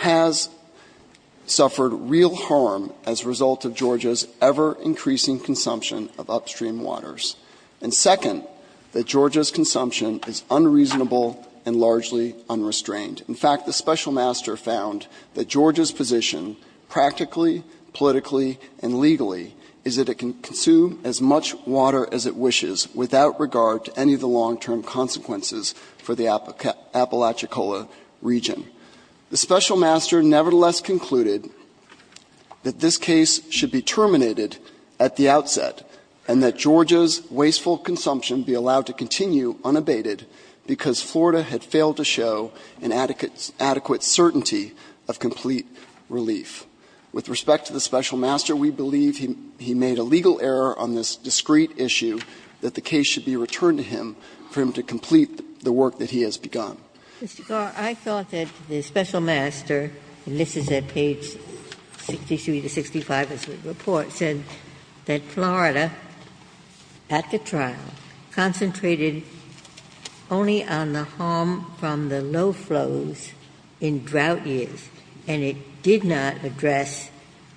has suffered real harm as a result of Georgia's ever-increasing consumption of upstream waters, and second, that Georgia's consumption is unreasonable and largely unrestrained. In fact, the Special Master found that Georgia's position, practically, politically, and legally, is that it can consume as much water as it wishes without regard to any of the long-term consequences for the Apalachicola region. The Special Master nevertheless concluded that this case should be terminated at the outset and that Georgia's wasteful consumption be allowed to continue unabated because Florida had failed to show an adequate certainty of complete relief. With respect to the Special Master, we believe he made a legal error on this discreet issue that the case should be returned to him for him to complete the work that he has begun. Ginsburg. I thought that the Special Master, and this is at page 63 to 65 of the report, said that Florida, at the trial, concentrated only on the harm from the low flows in drought years, and it did not address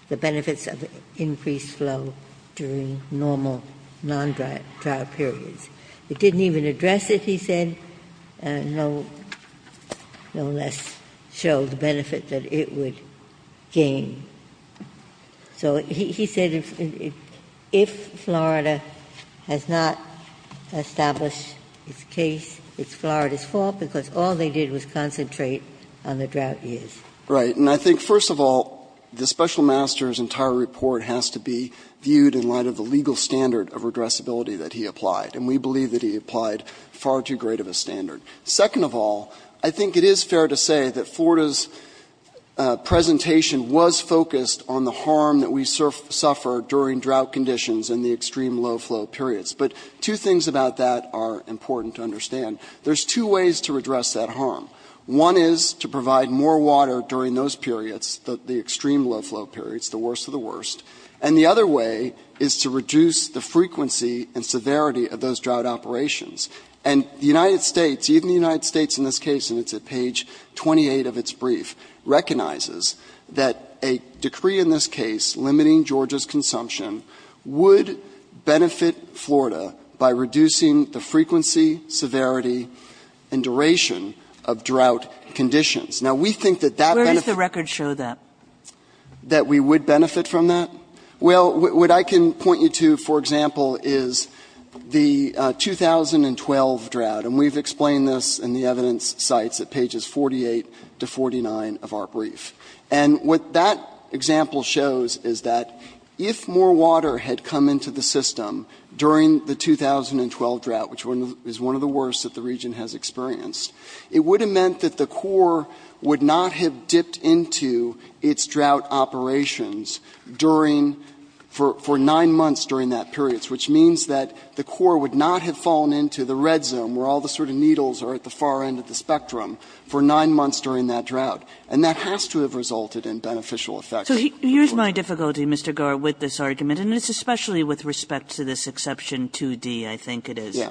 the benefits of increased flow during normal non-trial periods. It didn't even address it, he said, and no less showed the benefit that it would gain. So he said if Florida has not established its case, it's Florida's fault, because all they did was concentrate on the drought years. Right. And I think, first of all, the Special Master's entire report has to be viewed in light of the legal standard of addressability that he applied, and we believe that he applied far too great of a standard. Second of all, I think it is fair to say that Florida's presentation was focused on the harm that we suffer during drought conditions in the extreme low flow periods. But two things about that are important to understand. There's two ways to address that harm. One is to provide more water during those periods, the extreme low flow periods, the worst of the worst, and the other way is to reduce the frequency and severity of those drought operations. And the United States, even the United States in this case, and it's at page 28 of its brief, recognizes that a decree in this case limiting Georgia's consumption would benefit Florida by reducing the frequency, severity, and duration of drought conditions. Now, we think that that benefit Where does the record show that? That we would benefit from that? Well, what I can point you to, for example, is the 2012 drought, and we've explained this in the evidence sites at pages 48 to 49 of our brief. And what that example shows is that if more water had come into the system during the 2012 drought, which is one of the worst that the region has experienced, it would have meant that the Corps would not have dipped into its drought operations during for nine months during that period, which means that the Corps would not have fallen into the red zone where all the sort of needles are at the far end of the spectrum for nine months during that drought. And that has to have resulted in beneficial effects. So here's my difficulty, Mr. Garrett, with this argument, and it's especially with respect to this exception 2D, I think it is,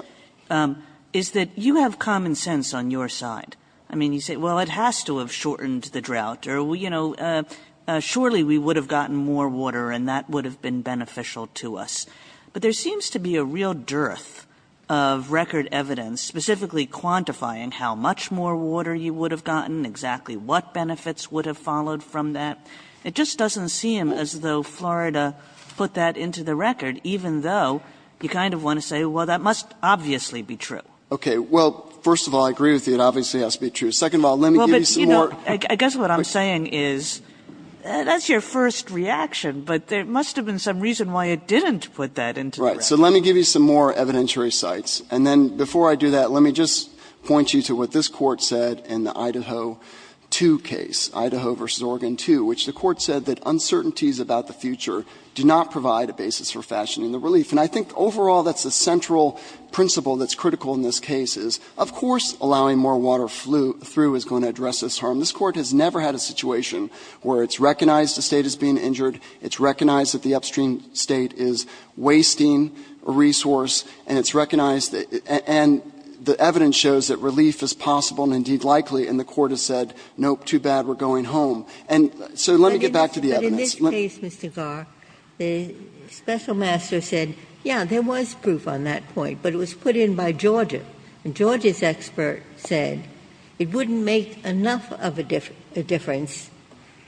is that you have common sense on your side. I mean, you say, well, it has to have shortened the drought or, you know, surely we would have gotten more water and that would have been beneficial to us. But there seems to be a real dearth of record evidence, specifically quantifying how much more water you would have gotten, exactly what benefits would have followed from that. It just doesn't seem as though Florida put that into the record, even though you kind of want to say, well, that must obviously be true. OK, well, first of all, I agree with you. It obviously has to be true. Second of all, let me give you some more. I guess what I'm saying is that's your first reaction, but there must have been some reason why it didn't put that into the record. Right. So let me give you some more evidentiary sites. And then before I do that, let me just point you to what this court said in the Idaho 2 case, Idaho versus Oregon 2, which the court said that uncertainties about the future do not provide a basis for fashioning the relief. And I think overall, that's the central principle that's critical in this case is, of course, allowing more water through is going to be a good thing. But this Court has never had a situation where it's recognized a State is being injured, it's recognized that the upstream State is wasting a resource, and it's recognized that the evidence shows that relief is possible and, indeed, likely, and the Court has said, nope, too bad, we're going home. And so let me get back to the evidence. But in this case, Mr. Gar, the special master said, yeah, there was proof on that point, but it was put in by Georgia. And Georgia's expert said it wouldn't make enough of a difference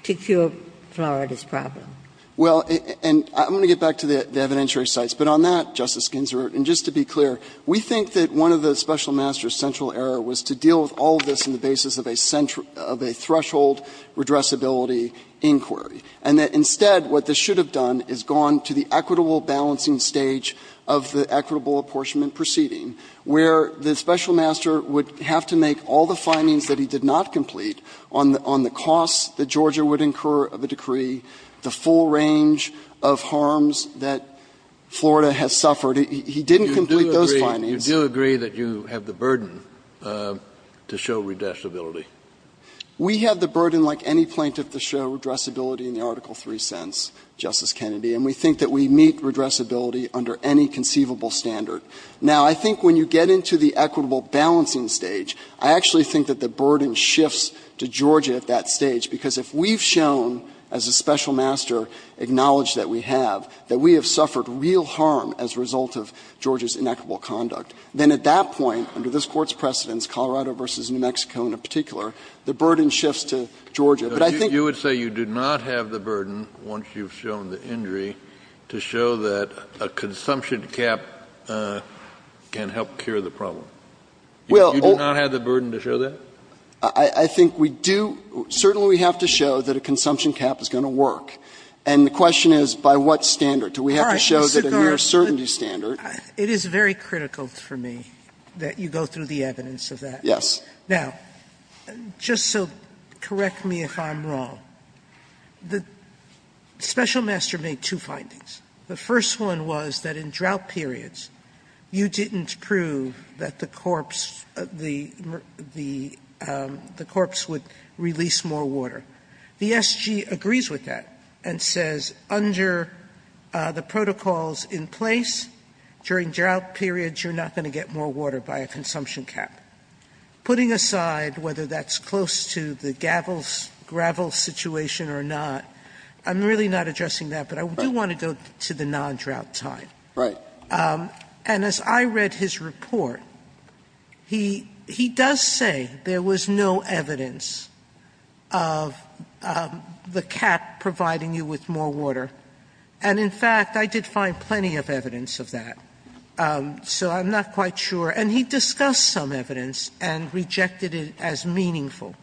to cure Florida's problem. Garrett, Well, and I'm going to get back to the evidentiary sites. But on that, Justice Ginsburg, and just to be clear, we think that one of the special master's central error was to deal with all of this on the basis of a threshold redressability inquiry, and that instead what this should have done is gone to the equitable balancing stage of the equitable apportionment proceeding, where the special master would have to make all the findings that he did not complete on the costs that Georgia would incur of a decree, the full range of harms that Florida has suffered. He didn't complete those findings. Kennedy, You do agree that you have the burden to show redressability. Garrett, We have the burden like any plaintiff to show redressability in the Article 3 sense, Justice Kennedy, and we think that we meet redressability under any conceivable standard. Now, I think when you get into the equitable balancing stage, I actually think that the burden shifts to Georgia at that stage, because if we've shown, as the special master acknowledged that we have, that we have suffered real harm as a result of Georgia's inequitable conduct, then at that point, under this Court's precedence, Colorado v. New Mexico in particular, the burden shifts to Georgia. But I think you would say you do not have the burden, once you've shown the injury, to show that a consumption cap can help cure the problem. You do not have the burden to show that? Garrett, I think we do – certainly we have to show that a consumption cap is going to work. And the question is, by what standard? Do we have to show that a near certainty standard? Sotomayor, It is very critical for me that you go through the evidence of that. Garrett, Yes. Sotomayor, Now, just so correct me if I'm wrong, the special master made two findings The first one was that in drought periods, you didn't prove that the corpse, the corpse would release more water. The SG agrees with that and says, under the protocols in place, during drought periods, you're not going to get more water by a consumption cap. Putting aside whether that's close to the gravel situation or not, I'm really not addressing that, but I do want to go to the non-drought time. And as I read his report, he does say there was no evidence of the cap providing you with more water. And in fact, I did find plenty of evidence of that. So I'm not quite sure. And he discussed some evidence and rejected it as meaningful.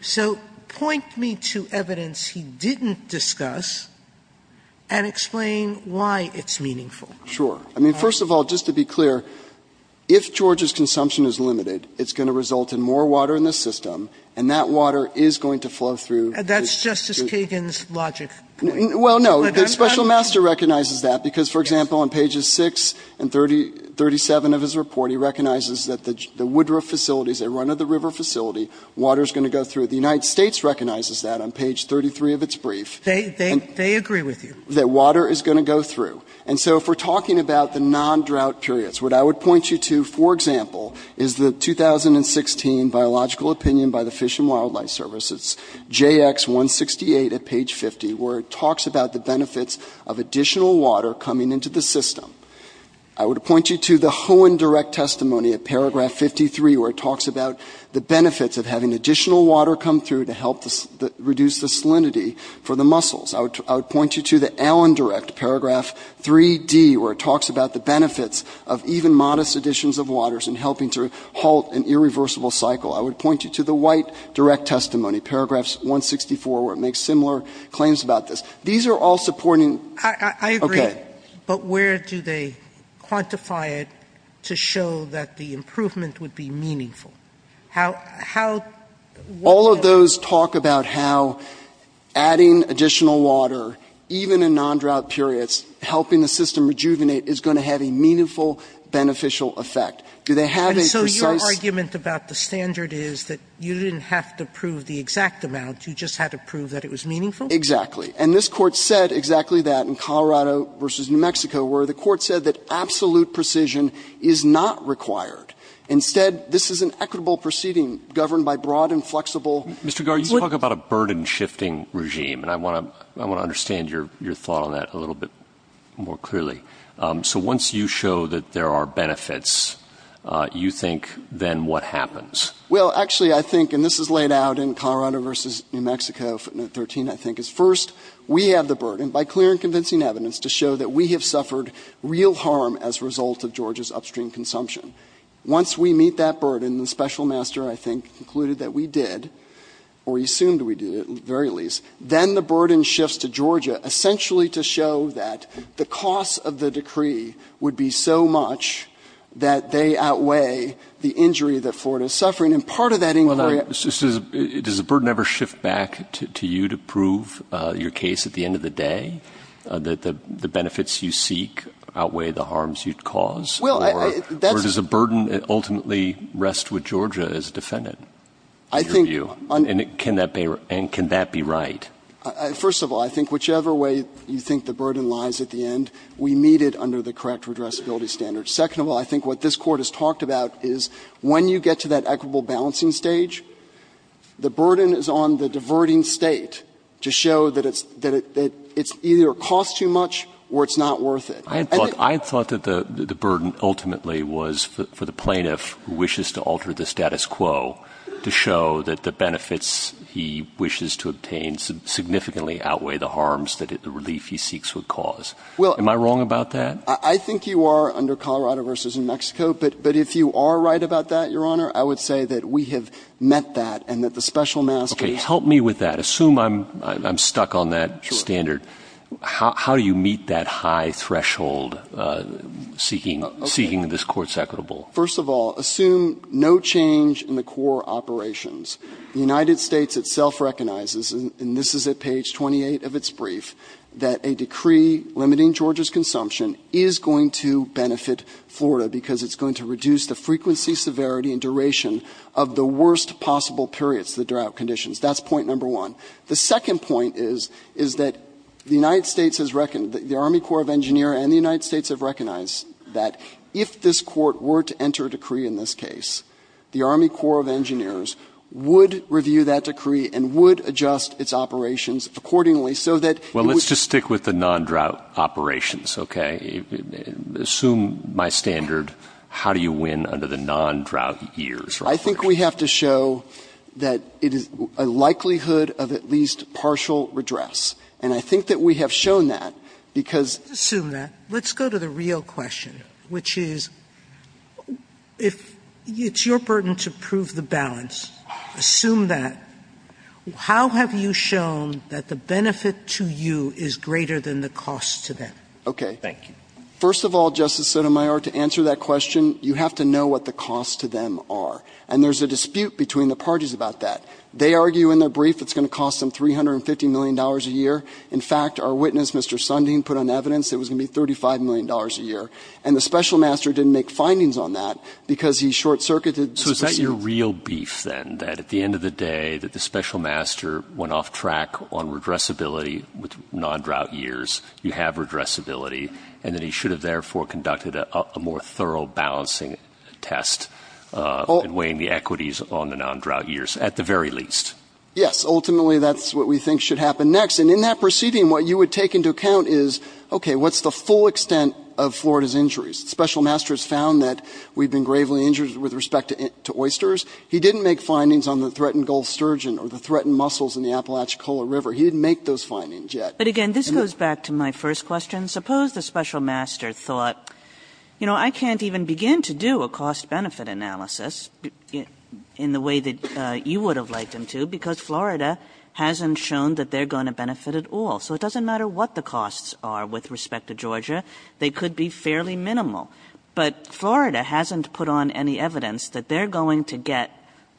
So point me to evidence he didn't discuss and explain why it's meaningful. Garrett, Sure. I mean, first of all, just to be clear, if Georgia's consumption is limited, it's going to result in more water in the system, and that water is going to flow through. Sotomayor, That's Justice Kagan's logic. Garrett, Well, no. The special master recognizes that because, for example, on pages 6 and 37 of his report, he recognizes that the Woodruff facility is a run-of-the-river facility. Water is going to go through. The United States recognizes that on page 33 of its brief. Sotomayor, They agree with you. Garrett, That water is going to go through. And so if we're talking about the non-drought periods, what I would point you to, for example, is the 2016 Biological Opinion by the Fish and Wildlife Service. It's JX168 at page 50, where it talks about the benefits of additional water coming into the system. I would point you to the Hohen Direct Testimony at paragraph 53, where it talks about the benefits of having additional water come through to help reduce the salinity for the mussels. I would point you to the Allen Direct, paragraph 3D, where it talks about the benefits of even modest additions of waters in helping to halt an irreversible cycle. I would point you to the White Direct Testimony, paragraphs 164, where it makes similar claims about this. These are all supporting. Sotomayor, I agree. But where do they quantify it to show that the improvement would be meaningful? How do they show that? Garrett, All of those talk about how adding additional water, even in non-drought periods, helping the system rejuvenate, is going to have a meaningful, beneficial effect. Do they have a precise? Sotomayor, And so your argument about the standard is that you didn't have to prove the exact amount, you just had to prove that it was meaningful? Exactly. And this Court said exactly that in Colorado v. New Mexico, where the Court said that absolute precision is not required. Instead, this is an equitable proceeding governed by broad and flexible. Mr. Garrett, you talk about a burden-shifting regime, and I want to understand your thought on that a little bit more clearly. So once you show that there are benefits, you think then what happens? Well, actually, I think, and this is laid out in Colorado v. New Mexico, footnote 13, I think, is, first, we have the burden, by clear and convincing evidence, to show that we have suffered real harm as a result of Georgia's upstream consumption. Once we meet that burden, the special master, I think, concluded that we did, or he assumed we did, at the very least, then the burden shifts to Georgia, essentially to show that the cost of the decree would be so much that they outweigh the injury that Florida is suffering. And part of that inquiry — So does the burden ever shift back to you to prove your case at the end of the day, that the benefits you seek outweigh the harms you cause? Well, I — Or does the burden ultimately rest with Georgia as a defendant, in your view? And can that be right? First of all, I think whichever way you think the burden lies at the end, we meet it under the correct redressability standards. Second of all, I think what this Court has talked about is when you get to that equitable balancing stage, the burden is on the diverting State to show that it's — that it's either a cost too much or it's not worth it. I had thought — I had thought that the burden ultimately was for the plaintiff who wishes to alter the status quo to show that the benefits he wishes to obtain significantly outweigh the harms that the relief he seeks would cause. Well — Am I wrong about that? I think you are under Colorado v. New Mexico, but if you are right about that, Your Honor, I think that we have met that and that the special mask is — Okay. Help me with that. Assume I'm — I'm stuck on that standard. Sure. How do you meet that high threshold seeking — seeking this Court's equitable — First of all, assume no change in the core operations. The United States itself recognizes, and this is at page 28 of its brief, that a decree limiting Georgia's consumption is going to benefit Florida because it's going to reduce the frequency, severity, and duration of the worst possible periods, the drought conditions. That's point number one. The second point is, is that the United States has reckoned — the Army Corps of Engineers and the United States have recognized that if this Court were to enter a decree in this case, the Army Corps of Engineers would review that decree and would adjust its operations accordingly so that — Well, let's just stick with the non-drought operations, okay? Assume my standard, how do you win under the non-drought years? I think we have to show that it is a likelihood of at least partial redress. And I think that we have shown that because — Assume that. Let's go to the real question, which is, if it's your burden to prove the balance, assume that. How have you shown that the benefit to you is greater than the cost to them? Okay. Thank you. First of all, Justice Sotomayor, to answer that question, you have to know what the costs to them are. And there's a dispute between the parties about that. They argue in their brief it's going to cost them $350 million a year. In fact, our witness, Mr. Sundin, put on evidence it was going to be $35 million a year. And the Special Master didn't make findings on that because he short-circuited the — So is that your real beef, then, that at the end of the day, that the Special Master went off track on redressability with non-drought years, you have redressability, and that he should have, therefore, conducted a more thorough balancing test in weighing the equities on the non-drought years, at the very least? Yes. Ultimately, that's what we think should happen next. And in that proceeding, what you would take into account is, okay, what's the full extent of Florida's injuries? The Special Master has found that we've been gravely injured with respect to oysters. He didn't make findings on the threatened Gulf sturgeon or the threatened mussels in the Apalachicola River. He didn't make those findings yet. But again, this goes back to my first question. Suppose the Special Master thought, you know, I can't even begin to do a cost-benefit analysis in the way that you would have liked them to because Florida hasn't shown that they're going to benefit at all. So it doesn't matter what the costs are with respect to Georgia. They could be fairly minimal. But Florida hasn't put on any evidence that they're going to get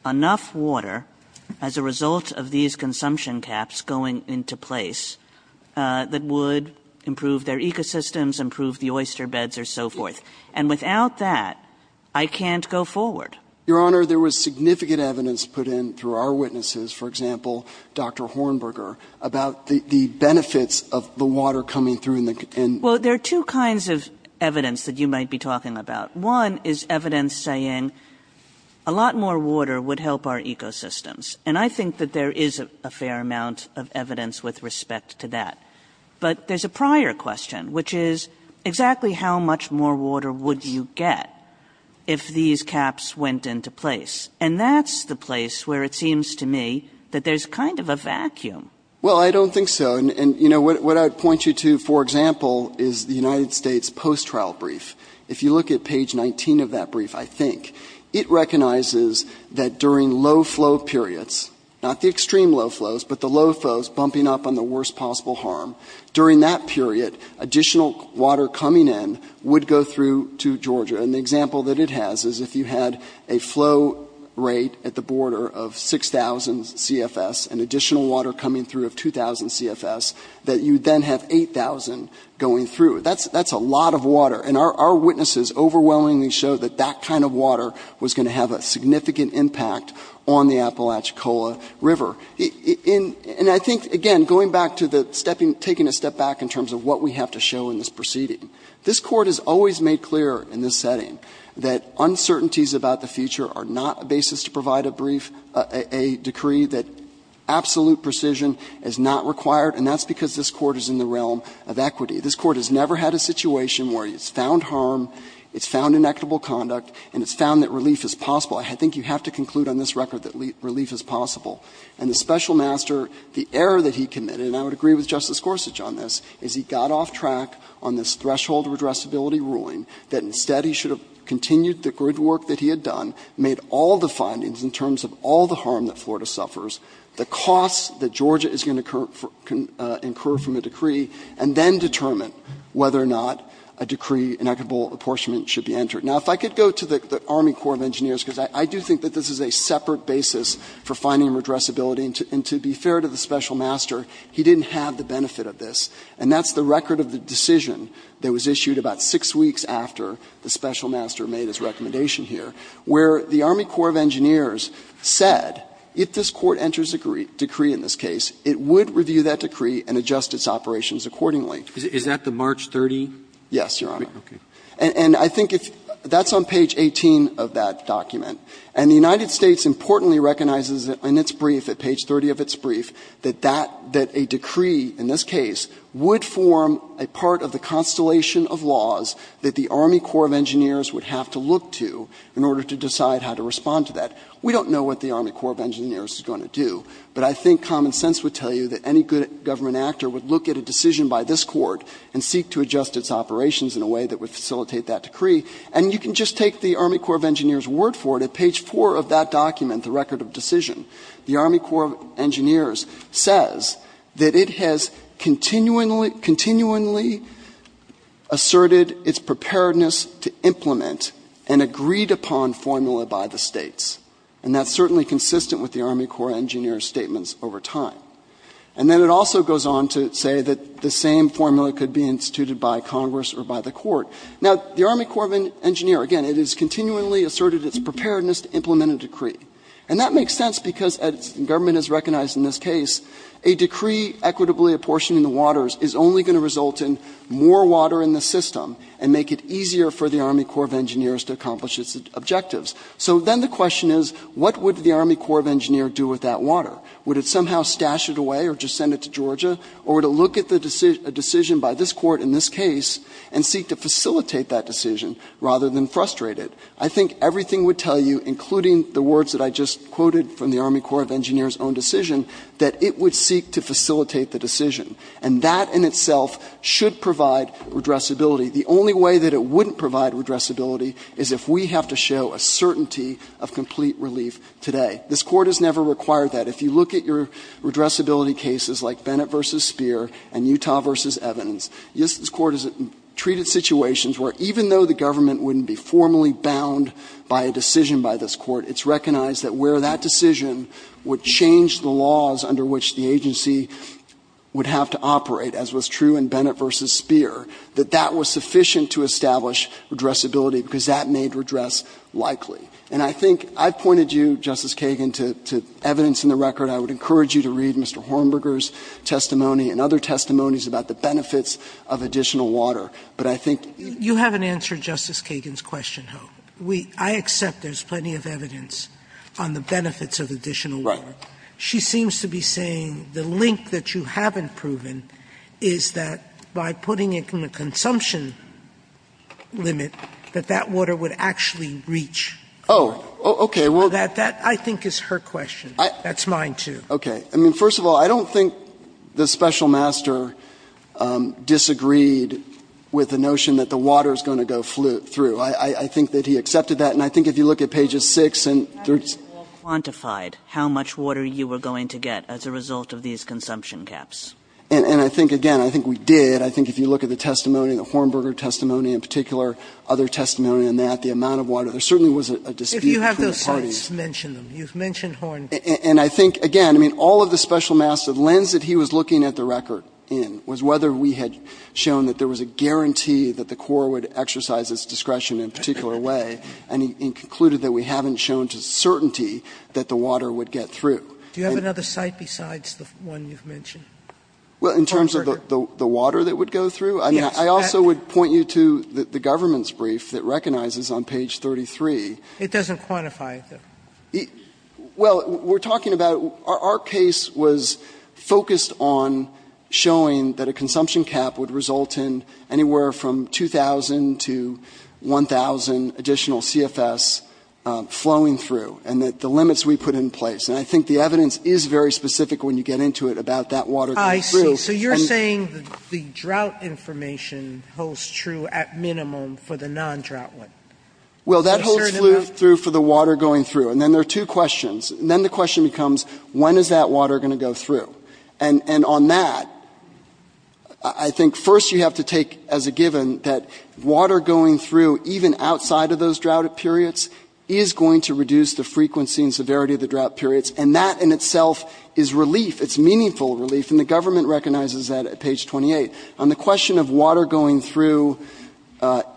enough water as a result of that, that would improve their ecosystems, improve the oyster beds, or so forth. And without that, I can't go forward. Your Honor, there was significant evidence put in through our witnesses, for example, Dr. Hornberger, about the benefits of the water coming through in the ______. Well, there are two kinds of evidence that you might be talking about. One is evidence saying a lot more water would help our ecosystems. And I think that there is a fair amount of evidence with respect to that. But there's a prior question, which is exactly how much more water would you get if these caps went into place? And that's the place where it seems to me that there's kind of a vacuum. Well, I don't think so. And, you know, what I'd point you to, for example, is the United States post-trial brief. If you look at page 19 of that brief, I think, it recognizes that during low-flow periods, not the extreme low flows, but the low flows bumping up on the worst possible harm, during that period, additional water coming in would go through to Georgia. And the example that it has is if you had a flow rate at the border of 6,000 CFS and additional water coming through of 2,000 CFS, that you then have 8,000 going through. That's a lot of water. And our witnesses overwhelmingly show that that kind of water was going to have a significant impact on the water in the Alachicola River. And I think, again, going back to the stepping — taking a step back in terms of what we have to show in this proceeding, this Court has always made clear in this setting that uncertainties about the future are not a basis to provide a brief, a decree that absolute precision is not required, and that's because this Court is in the realm of equity. This Court has never had a situation where it's found harm, it's found inequitable conduct, and it's found that relief is possible. I think you have to conclude on this record that relief is possible. And the Special Master, the error that he committed, and I would agree with Justice Gorsuch on this, is he got off track on this threshold redressability ruling, that instead he should have continued the good work that he had done, made all the findings in terms of all the harm that Florida suffers, the costs that Georgia is going to incur from a decree, and then determine whether or not a decree, inequitable apportionment, should be entered. Now, if I could go to the Army Corps of Engineers, because I do think that this is a separate basis for finding redressability, and to be fair to the Special Master, he didn't have the benefit of this, and that's the record of the decision that was issued about six weeks after the Special Master made his recommendation here, where the Army Corps of Engineers said if this Court enters a decree in this case, it would review that decree and adjust its operations accordingly. Yes, Your Honor. And I think that's on page 18 of that document. And the United States importantly recognizes in its brief, at page 30 of its brief, that that, that a decree, in this case, would form a part of the constellation of laws that the Army Corps of Engineers would have to look to in order to decide how to respond to that. We don't know what the Army Corps of Engineers is going to do, but I think common sense would tell you that any good government actor would look at a decision by this Court and seek to adjust its operations in a way that would facilitate that decree. And you can just take the Army Corps of Engineers' word for it. At page 4 of that document, the record of decision, the Army Corps of Engineers says that it has continually, continually asserted its preparedness to implement an agreed-upon formula by the States. And that's certainly consistent with the Army Corps of Engineers' statements over time. And then it also goes on to say that the same formula could be instituted by Congress or by the Court. Now, the Army Corps of Engineers, again, it has continually asserted its preparedness to implement a decree. And that makes sense because, as the government has recognized in this case, a decree equitably apportioning the waters is only going to result in more water in the system and make it easier for the Army Corps of Engineers to accomplish its objectives. So then the question is, what would the Army Corps of Engineers do with that water? Would it somehow stash it away or just send it to Georgia? Or would it look at the decision by this Court in this case and seek to facilitate that decision rather than frustrate it? I think everything would tell you, including the words that I just quoted from the Army Corps of Engineers' own decision, that it would seek to facilitate the decision. And that in itself should provide redressability. The only way that it wouldn't provide redressability is if we have to show a certainty of complete relief today. This Court has never required that. If you look at your redressability cases like Bennett v. Speer and Utah v. Evidence, this Court has treated situations where even though the government wouldn't be formally bound by a decision by this Court, it's recognized that where that decision would change the laws under which the agency would have to operate, as was true in Bennett v. Speer, that that was sufficient to establish redressability because that made redress likely. And I think I've pointed you, Justice Kagan, to evidence in the record. I would encourage you to read Mr. Hornberger's testimony and other testimonies about the benefits of additional water. But I think you haven't answered Justice Kagan's question, Ho. I accept there's plenty of evidence on the benefits of additional water. She seems to be saying the link that you haven't proven is that by putting it in the Oh, okay. Well, that I think is her question. That's mine, too. Okay. I mean, first of all, I don't think the special master disagreed with the notion that the water is going to go through. I think that he accepted that. And I think if you look at pages 6 and 3. Kagan quantified how much water you were going to get as a result of these consumption caps. And I think, again, I think we did. I think if you look at the testimony, the Hornberger testimony in particular, other testimony on that, the amount of water, there certainly was a dispute between the parties. If you have those sites, mention them. You've mentioned Hornberger. And I think, again, I mean, all of the special master, the lens that he was looking at the record in was whether we had shown that there was a guarantee that the Corps would exercise its discretion in a particular way. And he concluded that we haven't shown to certainty that the water would get through. Do you have another site besides the one you've mentioned? Well, in terms of the water that would go through? Yes. I also would point you to the government's brief that recognizes on page 33. It doesn't quantify it, though. Well, we're talking about our case was focused on showing that a consumption cap would result in anywhere from 2,000 to 1,000 additional CFS flowing through and that the limits we put in place. And I think the evidence is very specific when you get into it about that water going through. I see. So you're saying the drought information holds true at minimum for the non-drought one. Well, that holds true for the water going through. And then there are two questions. And then the question becomes, when is that water going to go through? And on that, I think first you have to take as a given that water going through even outside of those drought periods is going to reduce the frequency and severity of the drought periods, and that in itself is relief, it's meaningful relief. And the government recognizes that at page 28. On the question of water going through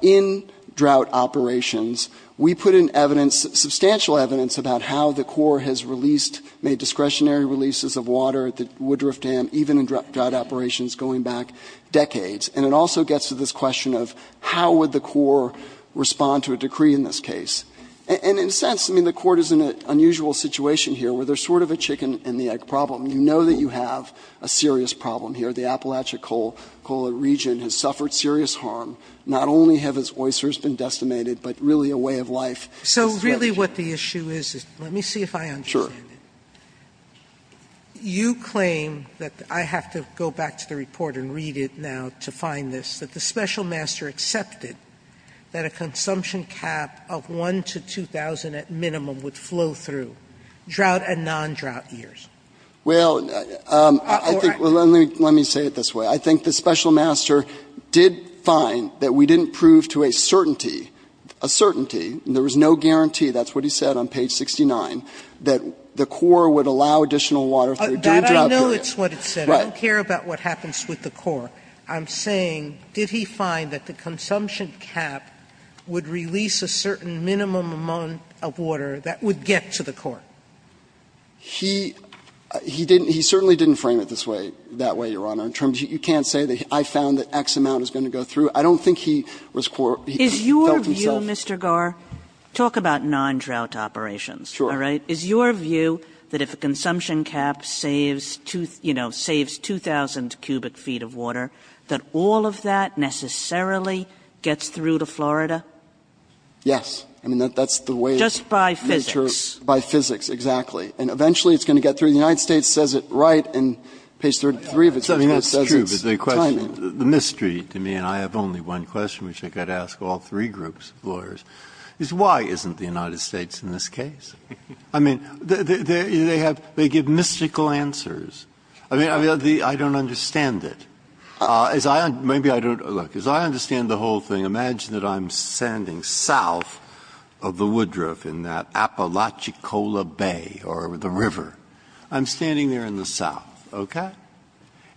in drought operations, we put in evidence, substantial evidence about how the court has released, made discretionary releases of water at the Woodruff Dam, even in drought operations going back decades. And it also gets to this question of how would the court respond to a decree in this case? And in a sense, I mean, the court is in an unusual situation here where there's sort of a chicken and the egg problem. You know that you have a serious problem here. The Appalachia-Cola region has suffered serious harm. Not only have its oysters been decimated, but really a way of life. So really what the issue is, let me see if I understand it. You claim that, I have to go back to the report and read it now to find this, that the special master accepted that a consumption cap of 1 to 2,000 at minimum would flow through drought and non-drought years. Well, I think, let me say it this way. I think the special master did find that we didn't prove to a certainty, a certainty, and there was no guarantee, that's what he said on page 69, that the Corps would allow additional water through drought. Sotomayor, I know it's what it said. Right. I don't care about what happens with the Corps. I'm saying, did he find that the consumption cap would release a certain minimum amount of water that would get to the Corps? He, he didn't, he certainly didn't frame it this way, that way, Your Honor. In terms of, you can't say that I found that X amount is going to go through. I don't think he was, he felt himself. Is your view, Mr. Gar, talk about non-drought operations. Sure. All right. Is your view that if a consumption cap saves 2, you know, saves 2,000 cubic feet of water, that all of that necessarily gets through to Florida? Yes. I mean, that's the way. Just by physics. By physics, exactly. And eventually it's going to get through. The United States says it right in page 33 of its report. I mean, that's true. But the question, the mystery to me, and I have only one question which I could ask all three groups of lawyers, is why isn't the United States in this case? I mean, they have, they give mystical answers. I mean, I don't understand it. As I, maybe I don't, look, as I understand the whole thing, imagine that I'm standing south of the woodruff in that Apalachicola Bay or the river. I'm standing there in the south, okay?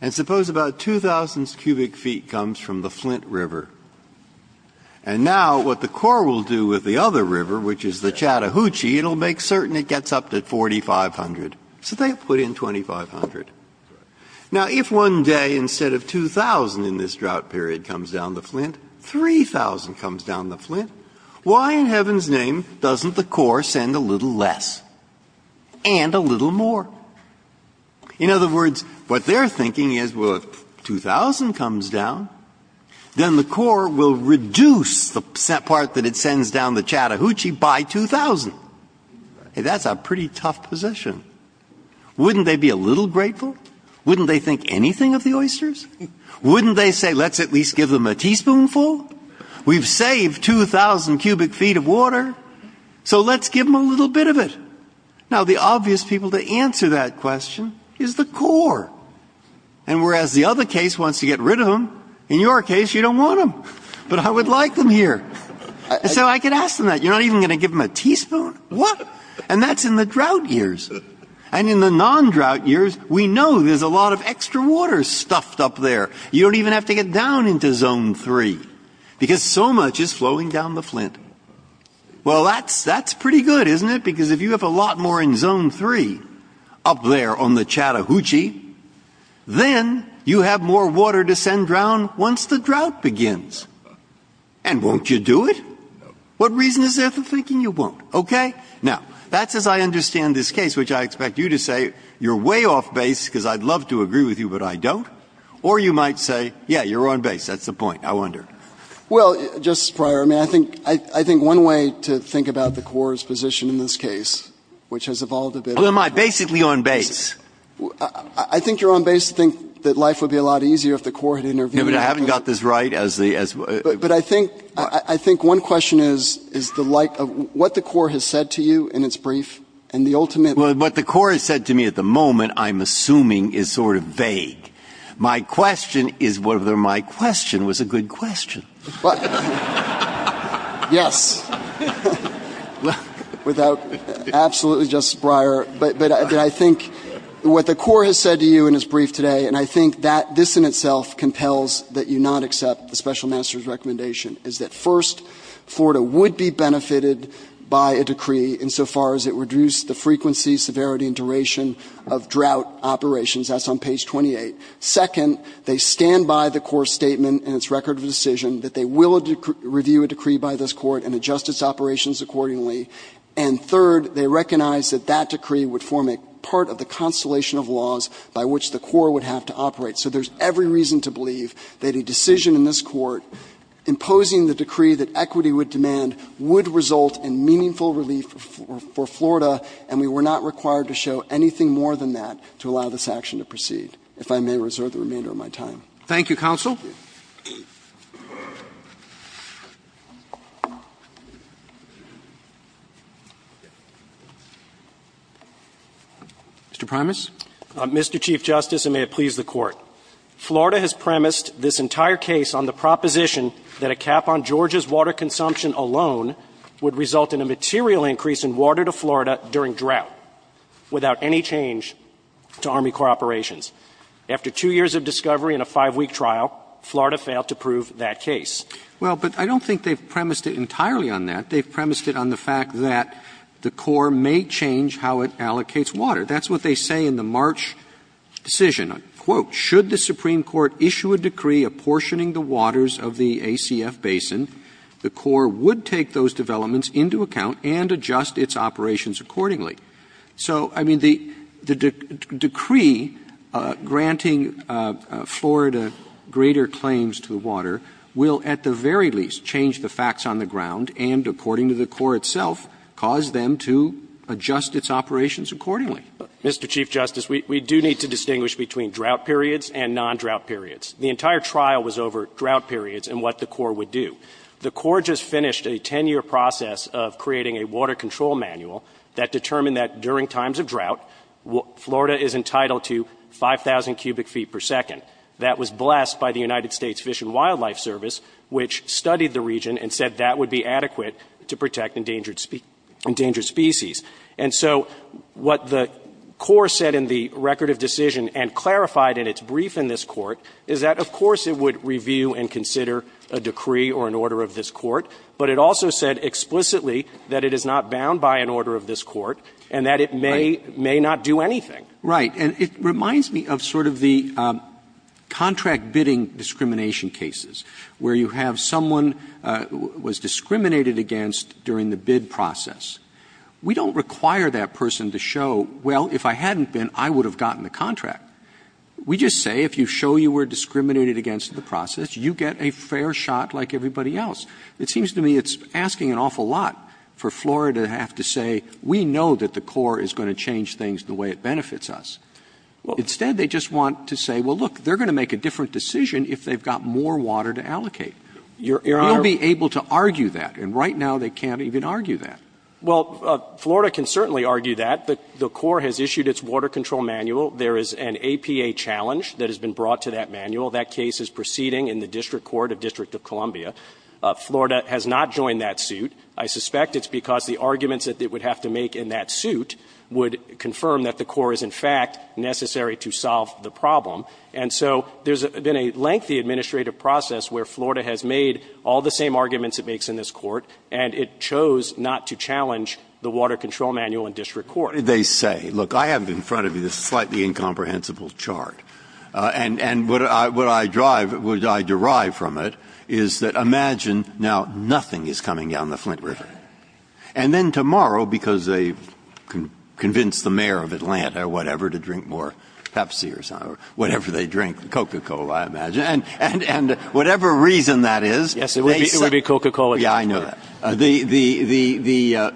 And suppose about 2,000 cubic feet comes from the Flint River. And now what the Corps will do with the other river, which is the Chattahoochee, it'll make certain it gets up to 4,500. So they put in 2,500. Now, if one day instead of 2,000 in this drought period comes down the Flint, 3,000 comes down the Flint, why in heaven's name doesn't the Corps send a little less and a little more? In other words, what they're thinking is, well, if 2,000 comes down, then the Corps will reduce the part that it sends down the Chattahoochee by 2,000. That's a pretty tough position. Wouldn't they be a little grateful? Wouldn't they think anything of the oysters? Wouldn't they say, let's at least give them a teaspoonful? We've saved 2,000 cubic feet of water, so let's give them a little bit of it. Now, the obvious people to answer that question is the Corps. And whereas the other case wants to get rid of them, in your case, you don't want them. But I would like them here. So I could ask them that. You're not even going to give them a teaspoon? What? And that's in the drought years. And in the non-drought years, we know there's a lot of extra water stuffed up there. You don't even have to get down into Zone 3, because so much is flowing down the Flint. Well, that's pretty good, isn't it? Because if you have a lot more in Zone 3 up there on the Chattahoochee, then you have more water to send down once the drought begins. And won't you do it? What reason is there for thinking you won't? OK? Now, that's as I understand this case, which I expect you to say, you're way off base, because I'd love to agree with you, but I don't. Or you might say, yeah, you're on base. That's the point, I wonder. Well, Justice Breyer, I think one way to think about the Corps' position in this case, which has evolved a bit over the years. Well, am I basically on base? I think you're on base to think that life would be a lot easier if the Corps had intervened. Yeah, but I haven't got this right. But I think one question is what the Corps has said to you in its brief, and the ultimate— Well, what the Corps has said to me at the moment, I'm assuming, is sort of vague. My question is whether my question was a good question. Well, yes. Without—absolutely, Justice Breyer. But I think what the Corps has said to you in its brief today, and I think that this in itself compels that you not accept the Special Master's recommendation, is that first, Florida would be benefited by a decree insofar as it reduced the frequency, severity, and duration of drought operations. That's on page 28. Second, they stand by the Corps' statement in its record of decision that they will review a decree by this Court and adjust its operations accordingly. And third, they recognize that that decree would form a part of the constellation of laws by which the Corps would have to operate. So there's every reason to believe that a decision in this Court imposing the decree that equity would demand would result in meaningful relief for Florida, and we were not required to show anything more than that to allow this action to proceed. If I may reserve the remainder of my time. Roberts. Thank you, counsel. Mr. Primus. Mr. Chief Justice, and may it please the Court. Florida has premised this entire case on the proposition that a cap on Georgia's water consumption alone would result in a material increase in water to Florida during drought without any change to Army Corps operations. After two years of discovery and a five-week trial, Florida failed to prove that case. Well, but I don't think they've premised it entirely on that. They've premised it on the fact that the Corps may change how it allocates water. That's what they say in the March decision. Quote, So, I mean, the decree granting Florida greater claims to the water will, at the very least, change the facts on the ground and, according to the Corps itself, cause them to adjust its operations accordingly. Mr. Chief Justice, we do need to distinguish between the two. The entire trial was over drought periods and what the Corps would do. The Corps just finished a 10-year process of creating a water control manual that determined that during times of drought, Florida is entitled to 5,000 cubic feet per second. That was blessed by the United States Fish and Wildlife Service, which studied the region and said that would be adequate to protect endangered species. And so what the Corps said in the record of decision and clarified in its brief in this Court is that, of course, it would review and consider a decree or an order of this Court, but it also said explicitly that it is not bound by an order of this Court and that it may not do anything. Right. And it reminds me of sort of the contract bidding discrimination cases, where you have someone who was discriminated against during the bid process. We don't require that person to show, well, if I hadn't been, I would have gotten the contract. We just say, if you show you were discriminated against in the process, you get a fair shot like everybody else. It seems to me it's asking an awful lot for Florida to have to say, we know that the Corps is going to change things the way it benefits us. Instead, they just want to say, well, look, they're going to make a different decision if they've got more water to allocate. You'll be able to argue that. And right now, they can't even argue that. Well, Florida can certainly argue that. The Corps has issued its water control manual. There is an APA challenge that has been brought to that manual. That case is proceeding in the district court of District of Columbia. Florida has not joined that suit. I suspect it's because the arguments that it would have to make in that suit would confirm that the Corps is, in fact, necessary to solve the problem. And so there's been a lengthy administrative process where Florida has made all the same arguments it makes in this court, and it chose not to challenge the water control manual in district court. They say, look, I have in front of you this slightly incomprehensible chart. And what I derive from it is that imagine now nothing is coming down the Flint River. And then tomorrow, because they convince the mayor of Atlanta or whatever to drink more Pepsi or whatever they drink, Coca-Cola, I imagine, and whatever reason that is, they say the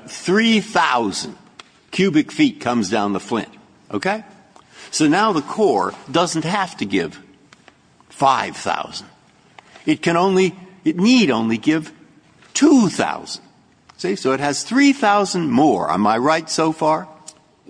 3,000 cubic feet comes down the Flint, OK? So now the Corps doesn't have to give 5,000. It can only, it need only give 2,000. See, so it has 3,000 more. Am I right so far?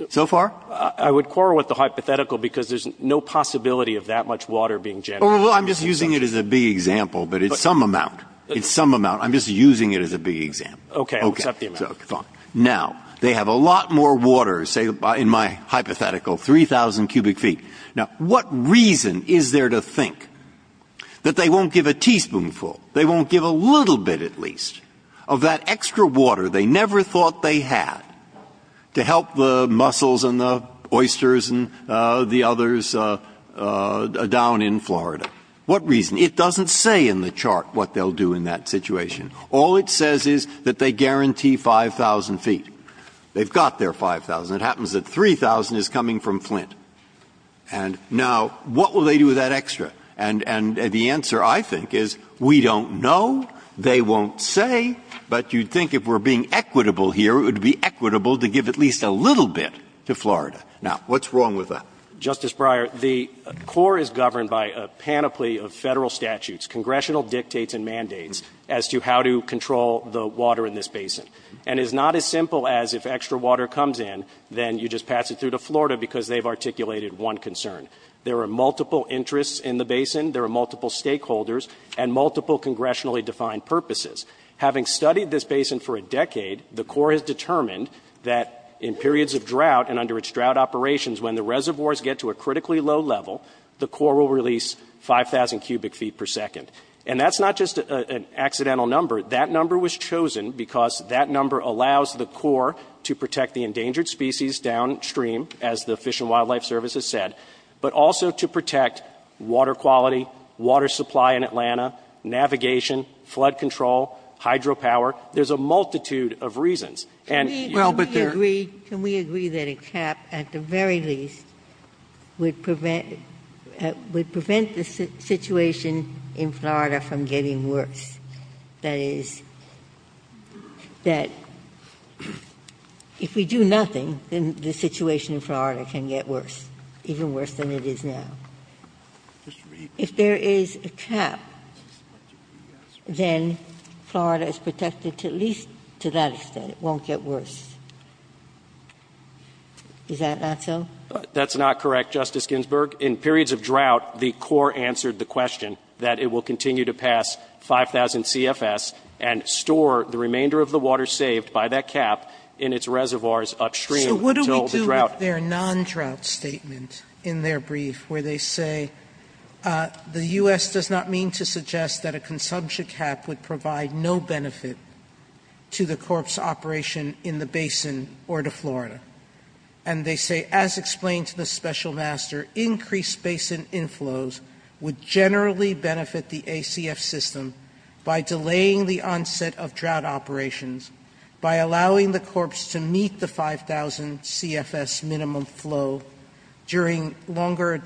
So far? I would quarrel with the hypothetical because there's no possibility of that much water being generated. I'm just using it as a big example, but it's some amount. It's some amount. I'm just using it as a big example. OK, I'll accept the amount. Now, they have a lot more water, say, in my hypothetical, 3,000 cubic feet. Now, what reason is there to think that they won't give a teaspoonful, they won't give a little bit at least, of that extra water they never thought they had to help the mussels and the oysters and the others down in Florida? What reason? It doesn't say in the chart what they'll do in that situation. All it says is that they guarantee 5,000 feet. They've got their 5,000. It happens that 3,000 is coming from Flint. And now, what will they do with that extra? And the answer, I think, is we don't know. They won't say. But you'd think if we're being equitable here, it would be equitable to give at least a little bit to Florida. Now, what's wrong with that? Justice Breyer, the Corps is governed by a panoply of Federal statutes, congressional dictates and mandates, as to how to control the water in this basin. And it's not as simple as if extra water comes in, then you just pass it through to Florida because they've articulated one concern. There are multiple interests in the basin. There are multiple stakeholders and multiple congressionally-defined purposes. Having studied this basin for a decade, the Corps has determined that in periods of drought and under its drought operations, when the reservoirs get to a critically low level, the Corps will release 5,000 cubic feet per second. And that's not just an accidental number. That number was chosen because that number allows the Corps to protect the endangered species downstream, as the Fish and Wildlife Service has said, but also to protect water quality, water supply in Atlanta, navigation, flood control, hydropower. There's a multitude of reasons. And you should be clear. Ginsburg. Can we agree that a cap, at the very least, would prevent the situation in Florida from getting worse? That is, that if we do nothing, then the situation in Florida can get worse, even worse than it is now. If there is a cap, then Florida is protected to at least to that extent. It won't get worse. Is that not so? That's not correct, Justice Ginsburg. In periods of drought, the Corps answered the question that it will continue to pass 5,000 CFS and store the remainder of the water saved by that cap in its reservoirs upstream until the drought. There are non-drought statements in their brief where they say the U.S. does not mean to suggest that a consumption cap would provide no benefit to the Corps' operation in the basin or to Florida. And they say, as explained to the Special Master, increased basin inflows would generally benefit the ACF system by delaying the onset of drought operations, by allowing the Corps to meet the 5,000 CFS minimum flow during longer,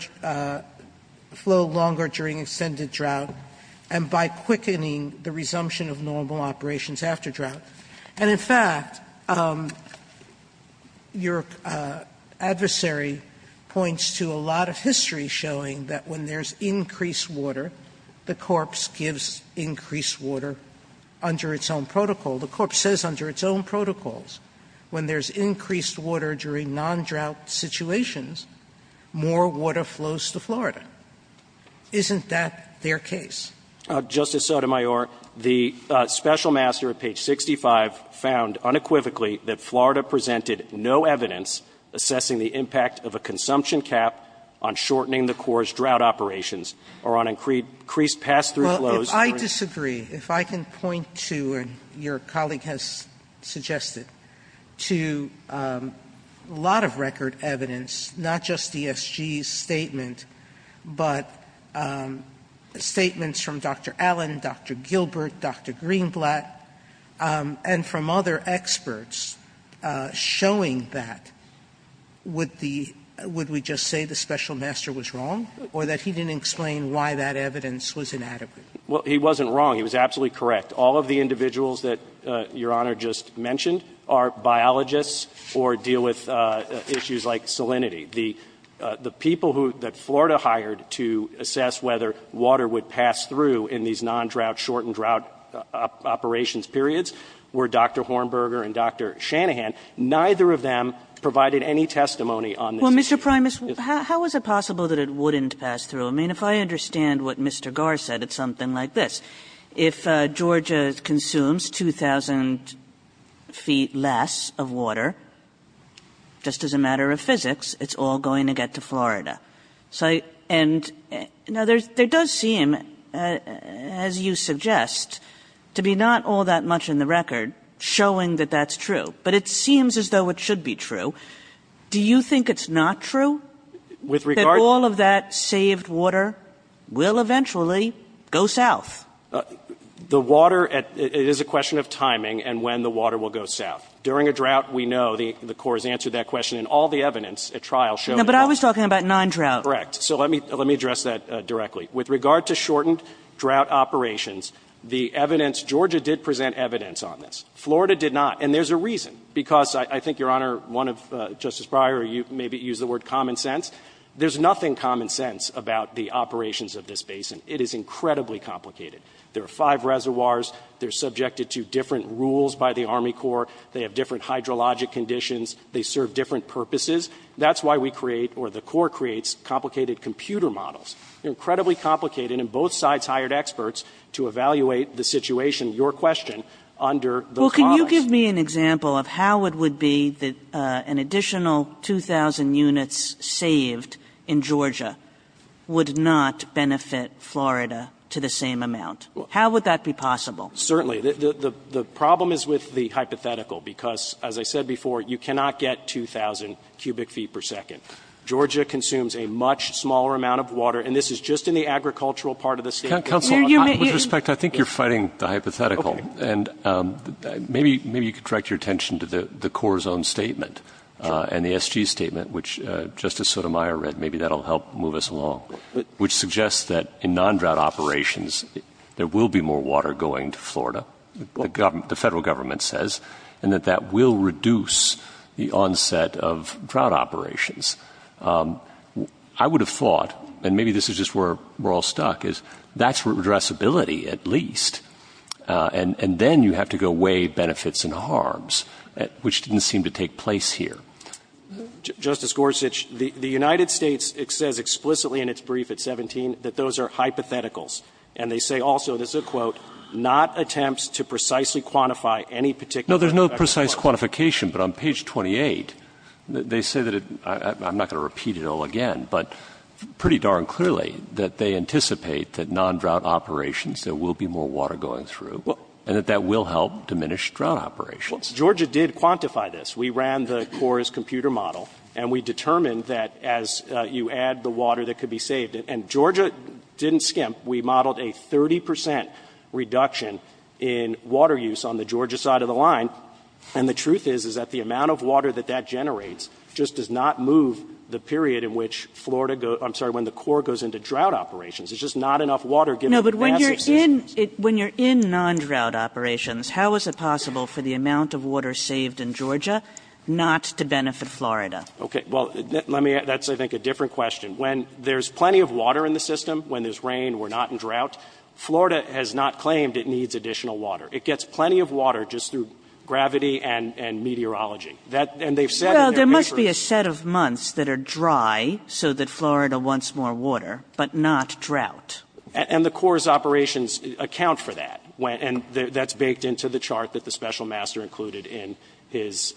flow longer during extended drought, and by quickening the resumption of normal operations after drought. And, in fact, your adversary points to a lot of history showing that when there's increased water, the Corps gives increased water under its own protocol. The Corps says under its own protocols, when there's increased water during non-drought situations, more water flows to Florida. Isn't that their case? Justice Sotomayor, the Special Master at page 65 found unequivocally that Florida presented no evidence assessing the impact of a consumption cap on shortening the Corps' drought operations or on increased pass-through flows. I disagree. If I can point to, and your colleague has suggested, to a lot of record evidence, not just DSG's statement, but statements from Dr. Allen, Dr. Gilbert, Dr. Greenblatt, and from other experts showing that. Would we just say the Special Master was wrong or that he didn't explain why that evidence was inadequate? Well, he wasn't wrong. He was absolutely correct. All of the individuals that your Honor just mentioned are biologists or deal with issues like salinity. The people that Florida hired to assess whether water would pass through in these non-drought shortened drought operations periods were Dr. Hornberger and Dr. Shanahan. Neither of them provided any testimony on this issue. Well, Mr. Primus, how is it possible that it wouldn't pass through? I mean, if I understand what Mr. Garr said, it's something like this. If Georgia consumes 2,000 feet less of water, just as a matter of physics, it's all going to get to Florida. Now, there does seem, as you suggest, to be not all that much in the record showing that that's true. But it seems as though it should be true. Do you think it's not true? That all of that saved water will eventually go south? The water at the end is a question of timing and when the water will go south. During a drought, we know the Corps has answered that question. And all the evidence at trial showed that. But I was talking about non-drought. Correct. So let me address that directly. With regard to shortened drought operations, the evidence, Georgia did present evidence on this. Florida did not. And there's a reason. Because I think, Your Honor, one of Justice Breyer, you maybe used the word common sense. There's nothing common sense about the operations of this basin. It is incredibly complicated. There are five reservoirs. They're subjected to different rules by the Army Corps. They have different hydrologic conditions. They serve different purposes. That's why we create, or the Corps creates, complicated computer models. They're incredibly complicated. And both sides hired experts to evaluate the situation, your question, under the clause. Can you give me an example of how it would be that an additional 2,000 units saved in Georgia would not benefit Florida to the same amount? How would that be possible? Certainly. The problem is with the hypothetical. Because, as I said before, you cannot get 2,000 cubic feet per second. Georgia consumes a much smaller amount of water. And this is just in the agricultural part of the state. Counsel, with respect, I think you're fighting the hypothetical. Okay. And maybe you can direct your attention to the Corps' own statement and the SG statement, which Justice Sotomayor read. Maybe that will help move us along. Which suggests that in non-drought operations, there will be more water going to Florida, the federal government says, and that that will reduce the onset of drought operations. I would have thought, and maybe this is just where we're all stuck, is that's redressability, at least. And then you have to go weigh benefits and harms, which didn't seem to take place here. Justice Gorsuch, the United States, it says explicitly in its brief at 17 that those are hypotheticals, and they say also, this is a quote, not attempts to precisely quantify any particular effect. No, there's no precise quantification. But on page 28, they say that it, I'm not going to repeat it all again, but pretty darn clearly that they anticipate that non-drought operations, there will be more water going through, and that that will help diminish drought operations. Well, Georgia did quantify this. We ran the CORE's computer model, and we determined that as you add the water that could be saved, and Georgia didn't skimp. We modeled a 30 percent reduction in water use on the Georgia side of the line, and the truth is, is that the amount of water that that generates just does not move the period in which Florida goes, I'm sorry, when the CORE goes into drought operations. There's just not enough water given the capacity. No, but when you're in non-drought operations, how is it possible for the amount of water saved in Georgia not to benefit Florida? Okay. Well, let me, that's, I think, a different question. When there's plenty of water in the system, when there's rain, we're not in drought, Florida has not claimed it needs additional water. It gets plenty of water just through gravity and meteorology. That, and they've said in their papers. Well, there must be a set of months that are dry so that Florida wants more water, but not drought. And the CORE's operations account for that. And that's baked into the chart that the Special Master included in his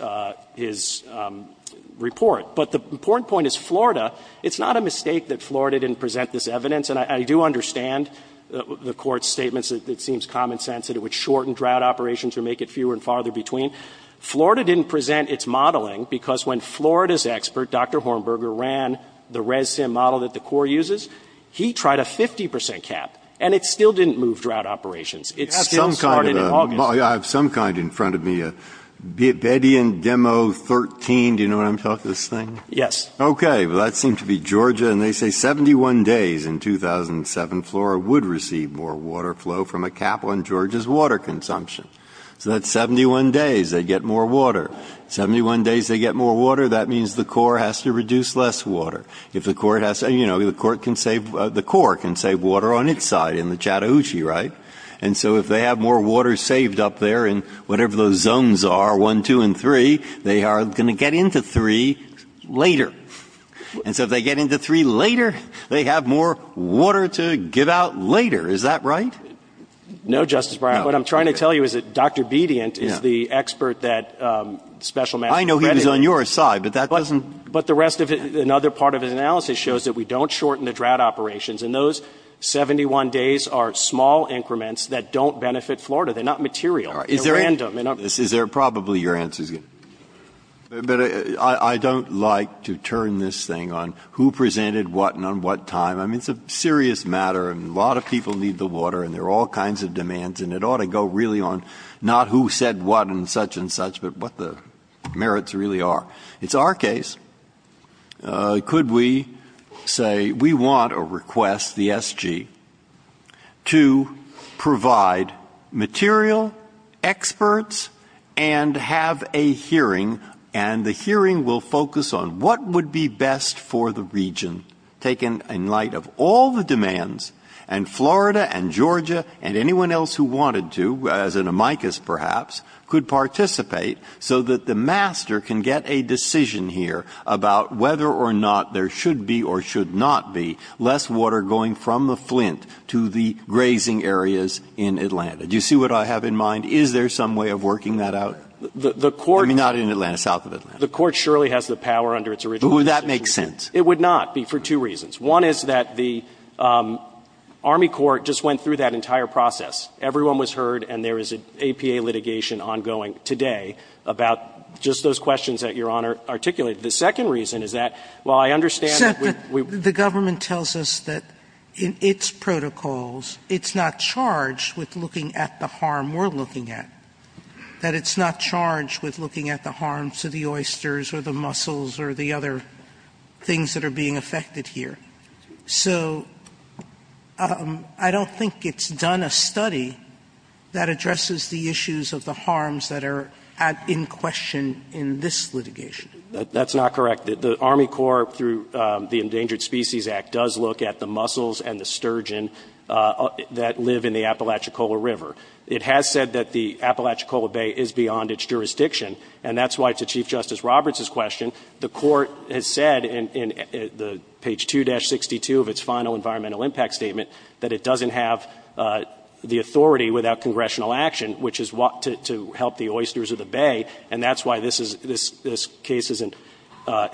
report. But the important point is Florida, it's not a mistake that Florida didn't present this evidence, and I do understand the Court's statements. It seems common sense that it would shorten drought operations or make it fewer and farther between. Florida didn't present its modeling, because when Florida's expert, Dr. Hornberger, ran the ResSim model that the CORE uses, he tried a 50% cap, and it still didn't move drought operations. It still started in August. I have some kind in front of me, a Bedian Demo 13, do you know what I'm talking about, this thing? Yes. Okay. Well, that seemed to be Georgia, and they say 71 days in 2007, Florida would receive more water flow from a cap on Georgia's water consumption. So that's 71 days they get more water. 71 days they get more water, that means the CORE has to reduce less water. If the CORE has to, you know, the CORE can save water on its side in the Chattahoochee, right? And so if they have more water saved up there in whatever those zones are, one, two, and three, they are going to get into three later. And so if they get into three later, they have more water to give out later. Is that right? No, Justice Breyer. What I'm trying to tell you is that Dr. Bediant is the expert that Special Master Credit is. I know he was on your side, but that doesn't... But the rest of it, another part of his analysis shows that we don't shorten the drought operations, and those 71 days are small increments that don't benefit Florida. They're not material. They're random. Is there probably your answer is going to... But I don't like to turn this thing on who presented what and on what time. I mean, it's a serious matter, and a lot of people need the water, and there are all kinds of demands, and it ought to go really on not who said what and such and such, but what the merits really are. It's our case. Could we say we want a request, the SG, to provide material, experts, and have a hearing, and the hearing will focus on what would be best for the region, taken in light of all the demands, and Florida and Georgia and anyone else who wanted to, as an amicus perhaps, could participate so that the master can get a decision here about whether or not there should be or should not be less water going from the Flint to the grazing areas in Atlanta. Do you see what I have in mind? Is there some way of working that out? The court... I mean, not in Atlanta, south of Atlanta. The court surely has the power under its original... But would that make sense? It would not be for two reasons. One is that the Army court just went through that entire process. Everyone was heard, and there is an APA litigation ongoing today about just those questions that Your Honor articulated. The second reason is that, while I understand that we... Sotomayor, the government tells us that in its protocols, it's not charged with looking at the harm we're looking at, that it's not charged with looking at the harms to the So I don't think it's done a study that addresses the issues of the harms that are at in question in this litigation. That's not correct. The Army court, through the Endangered Species Act, does look at the mussels and the sturgeon that live in the Apalachicola River. It has said that the Apalachicola Bay is beyond its jurisdiction, and that's why, to Chief Justice Roberts' question, the court has said in page 2-62 of its final environmental impact statement that it doesn't have the authority without congressional action, which is to help the oysters of the bay. And that's why this case is an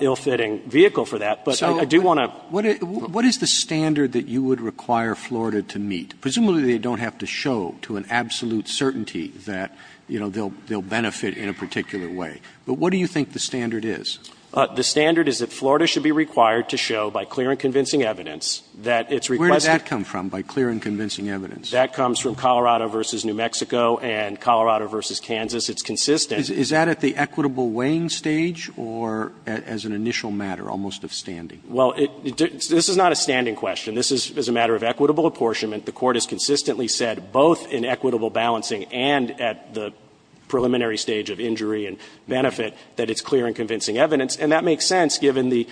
ill-fitting vehicle for that. But I do want to... Roberts. So what is the standard that you would require Florida to meet? Presumably, they don't have to show to an absolute certainty that, you know, they'll benefit in a particular way. But what do you think the standard is? The standard is that Florida should be required to show, by clear and convincing evidence, that its request... Where does that come from, by clear and convincing evidence? That comes from Colorado v. New Mexico and Colorado v. Kansas. It's consistent. Is that at the equitable weighing stage or as an initial matter, almost of standing? Well, this is not a standing question. This is a matter of equitable apportionment. The court has consistently said both in equitable balancing and at the preliminary stage of injury and benefit, that it's clear and convincing evidence. And that makes sense, given the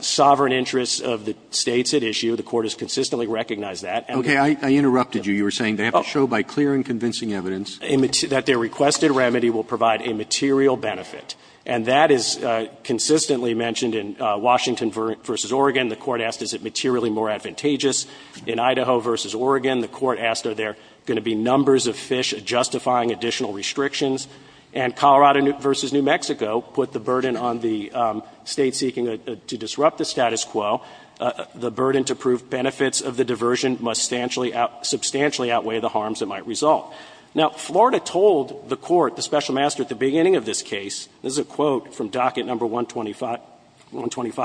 sovereign interests of the States at issue. The court has consistently recognized that. Okay. I interrupted you. You were saying they have to show by clear and convincing evidence. That their requested remedy will provide a material benefit. And that is consistently mentioned in Washington v. Oregon. The court asked, is it materially more advantageous? In Idaho v. Oregon, the court asked, are there going to be numbers of fish justifying additional restrictions? And Colorado v. New Mexico put the burden on the State seeking to disrupt the status quo. The burden to prove benefits of the diversion must substantially outweigh the harms that might result. Now, Florida told the court, the special master at the beginning of this case, this is a quote from docket 125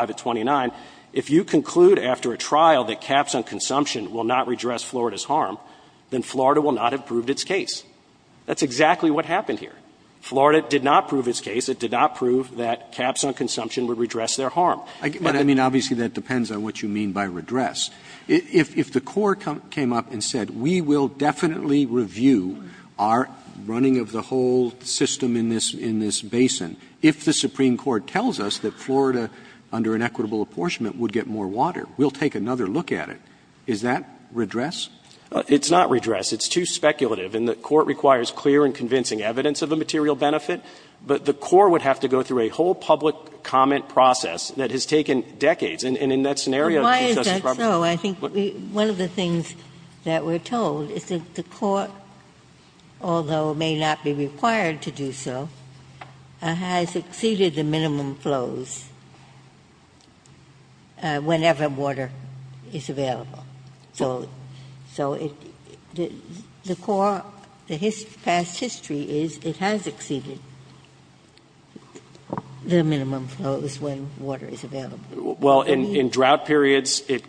to 29, if you conclude after a trial that caps on consumption will not redress Florida's harm, then Florida will not have proved its case. That's exactly what happened here. Florida did not prove its case. It did not prove that caps on consumption would redress their harm. But I mean, obviously, that depends on what you mean by redress. If the court came up and said, we will definitely review our running of the whole system in this basin, if the Supreme Court tells us that Florida, under an equitable apportionment, would get more water, we'll take another look at it, is that redress? It's not redress. It's too speculative. And the court requires clear and convincing evidence of the material benefit. But the court would have to go through a whole public comment process that has taken decades. And in that scenario, it's just as probable. Ginsburg. Why is that so? I think one of the things that we're told is that the court, although it may not be required to do so, has exceeded the minimum flows whenever water is available. So the core, the past history is it has exceeded the minimum flows when water is available. Well, in drought periods, it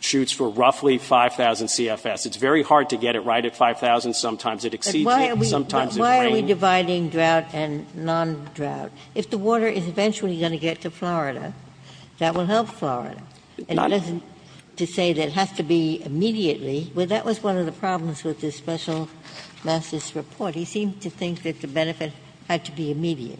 shoots for roughly 5,000 CFS. It's very hard to get it right at 5,000. Sometimes it exceeds it. Sometimes it drains. But why are we dividing drought and non-drought? If the water is eventually going to get to Florida, that will help Florida. And to say that it has to be immediately, well, that was one of the problems with the special master's report. He seemed to think that the benefit had to be immediate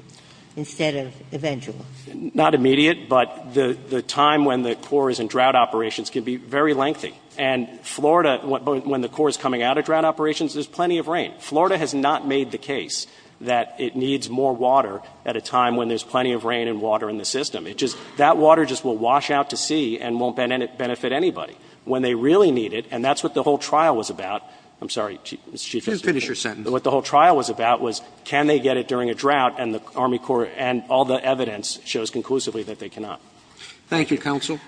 instead of eventual. Not immediate, but the time when the core is in drought operations can be very lengthy. And Florida, when the core is coming out of drought operations, there's plenty of rain. Florida has not made the case that it needs more water at a time when there's plenty of rain and water in the system. It just, that water just will wash out to sea and won't benefit anybody. When they really need it, and that's what the whole trial was about. I'm sorry, Mr. Chief Justice. Roberts. Just finish your sentence. What the whole trial was about was can they get it during a drought and the Army Corps and all the evidence shows conclusively that they cannot. Thank you, counsel.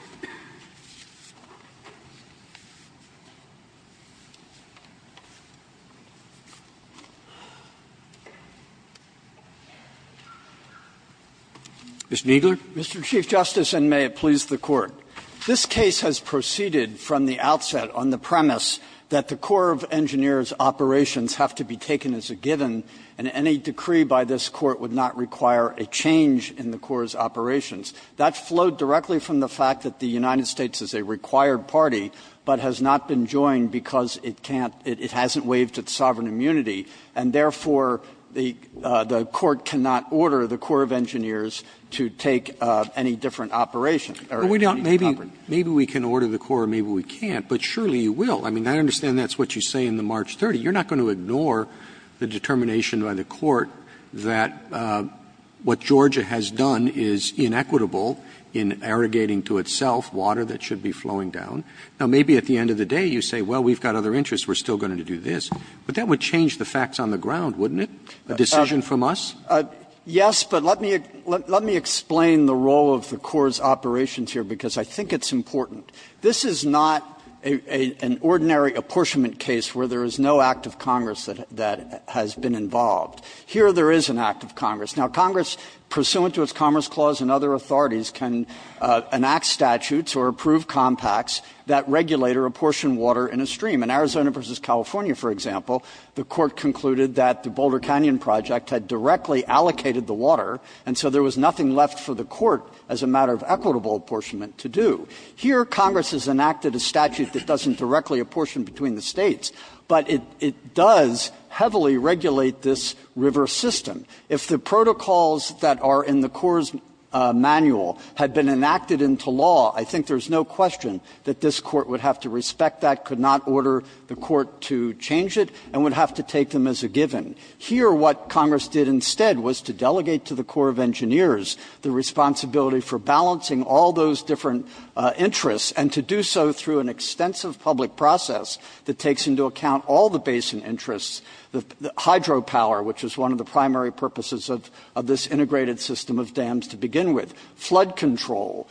Mr. Kneedler. Mr. Chief Justice, and may it please the Court. This case has proceeded from the outset on the premise that the Corps of Engineers operations have to be taken as a given, and any decree by this Court would not require a change in the Corps' operations. That flowed directly from the fact that the United States is a required party, but has not been joined because it can't, it hasn't waived its sovereign immunity. And therefore, the Court cannot order the Corps of Engineers to take any different operation. Roberts. Maybe we can order the Corps, maybe we can't, but surely you will. I mean, I understand that's what you say in the March 30. You're not going to ignore the determination by the Court that what Georgia has done is inequitable in irrigating to itself water that should be flowing down. Now, maybe at the end of the day you say, well, we've got other interests, we're still going to do this. But that would change the facts on the ground, wouldn't it? A decision from us? Yes, but let me explain the role of the Corps' operations here, because I think it's important. This is not an ordinary apportionment case where there is no act of Congress that has been involved. Here there is an act of Congress. Now, Congress, pursuant to its Commerce Clause and other authorities, can enact statutes or approve compacts that regulate or apportion water in a stream. In Arizona v. California, for example, the Court concluded that the Boulder Canyon project had directly allocated the water, and so there was nothing left for the Court as a matter of equitable apportionment to do. Here Congress has enacted a statute that doesn't directly apportion between the States, but it does heavily regulate this river system. If the protocols that are in the Corps' manual had been enacted into law, I think there's no question that this Court would have to respect that, could not order the Court to change it, and would have to take them as a given. Here what Congress did instead was to delegate to the Corps of Engineers the responsibility for balancing all those different interests, and to do so through an extensive public process that takes into account all the basin interests. The hydropower, which is one of the primary purposes of this integrated system of dams to begin with, flood control,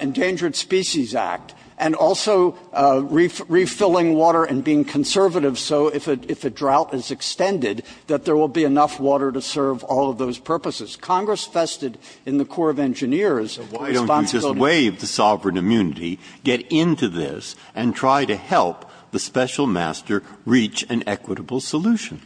Endangered Species Act, and also refilling water and being conservative, so if a drought is extended, that there will be enough water to serve all of those purposes. Congress vested in the Corps of Engineers the responsibility. Breyer. Why don't you just waive the sovereign immunity, get into this, and try to help the special master reach an equitable solution?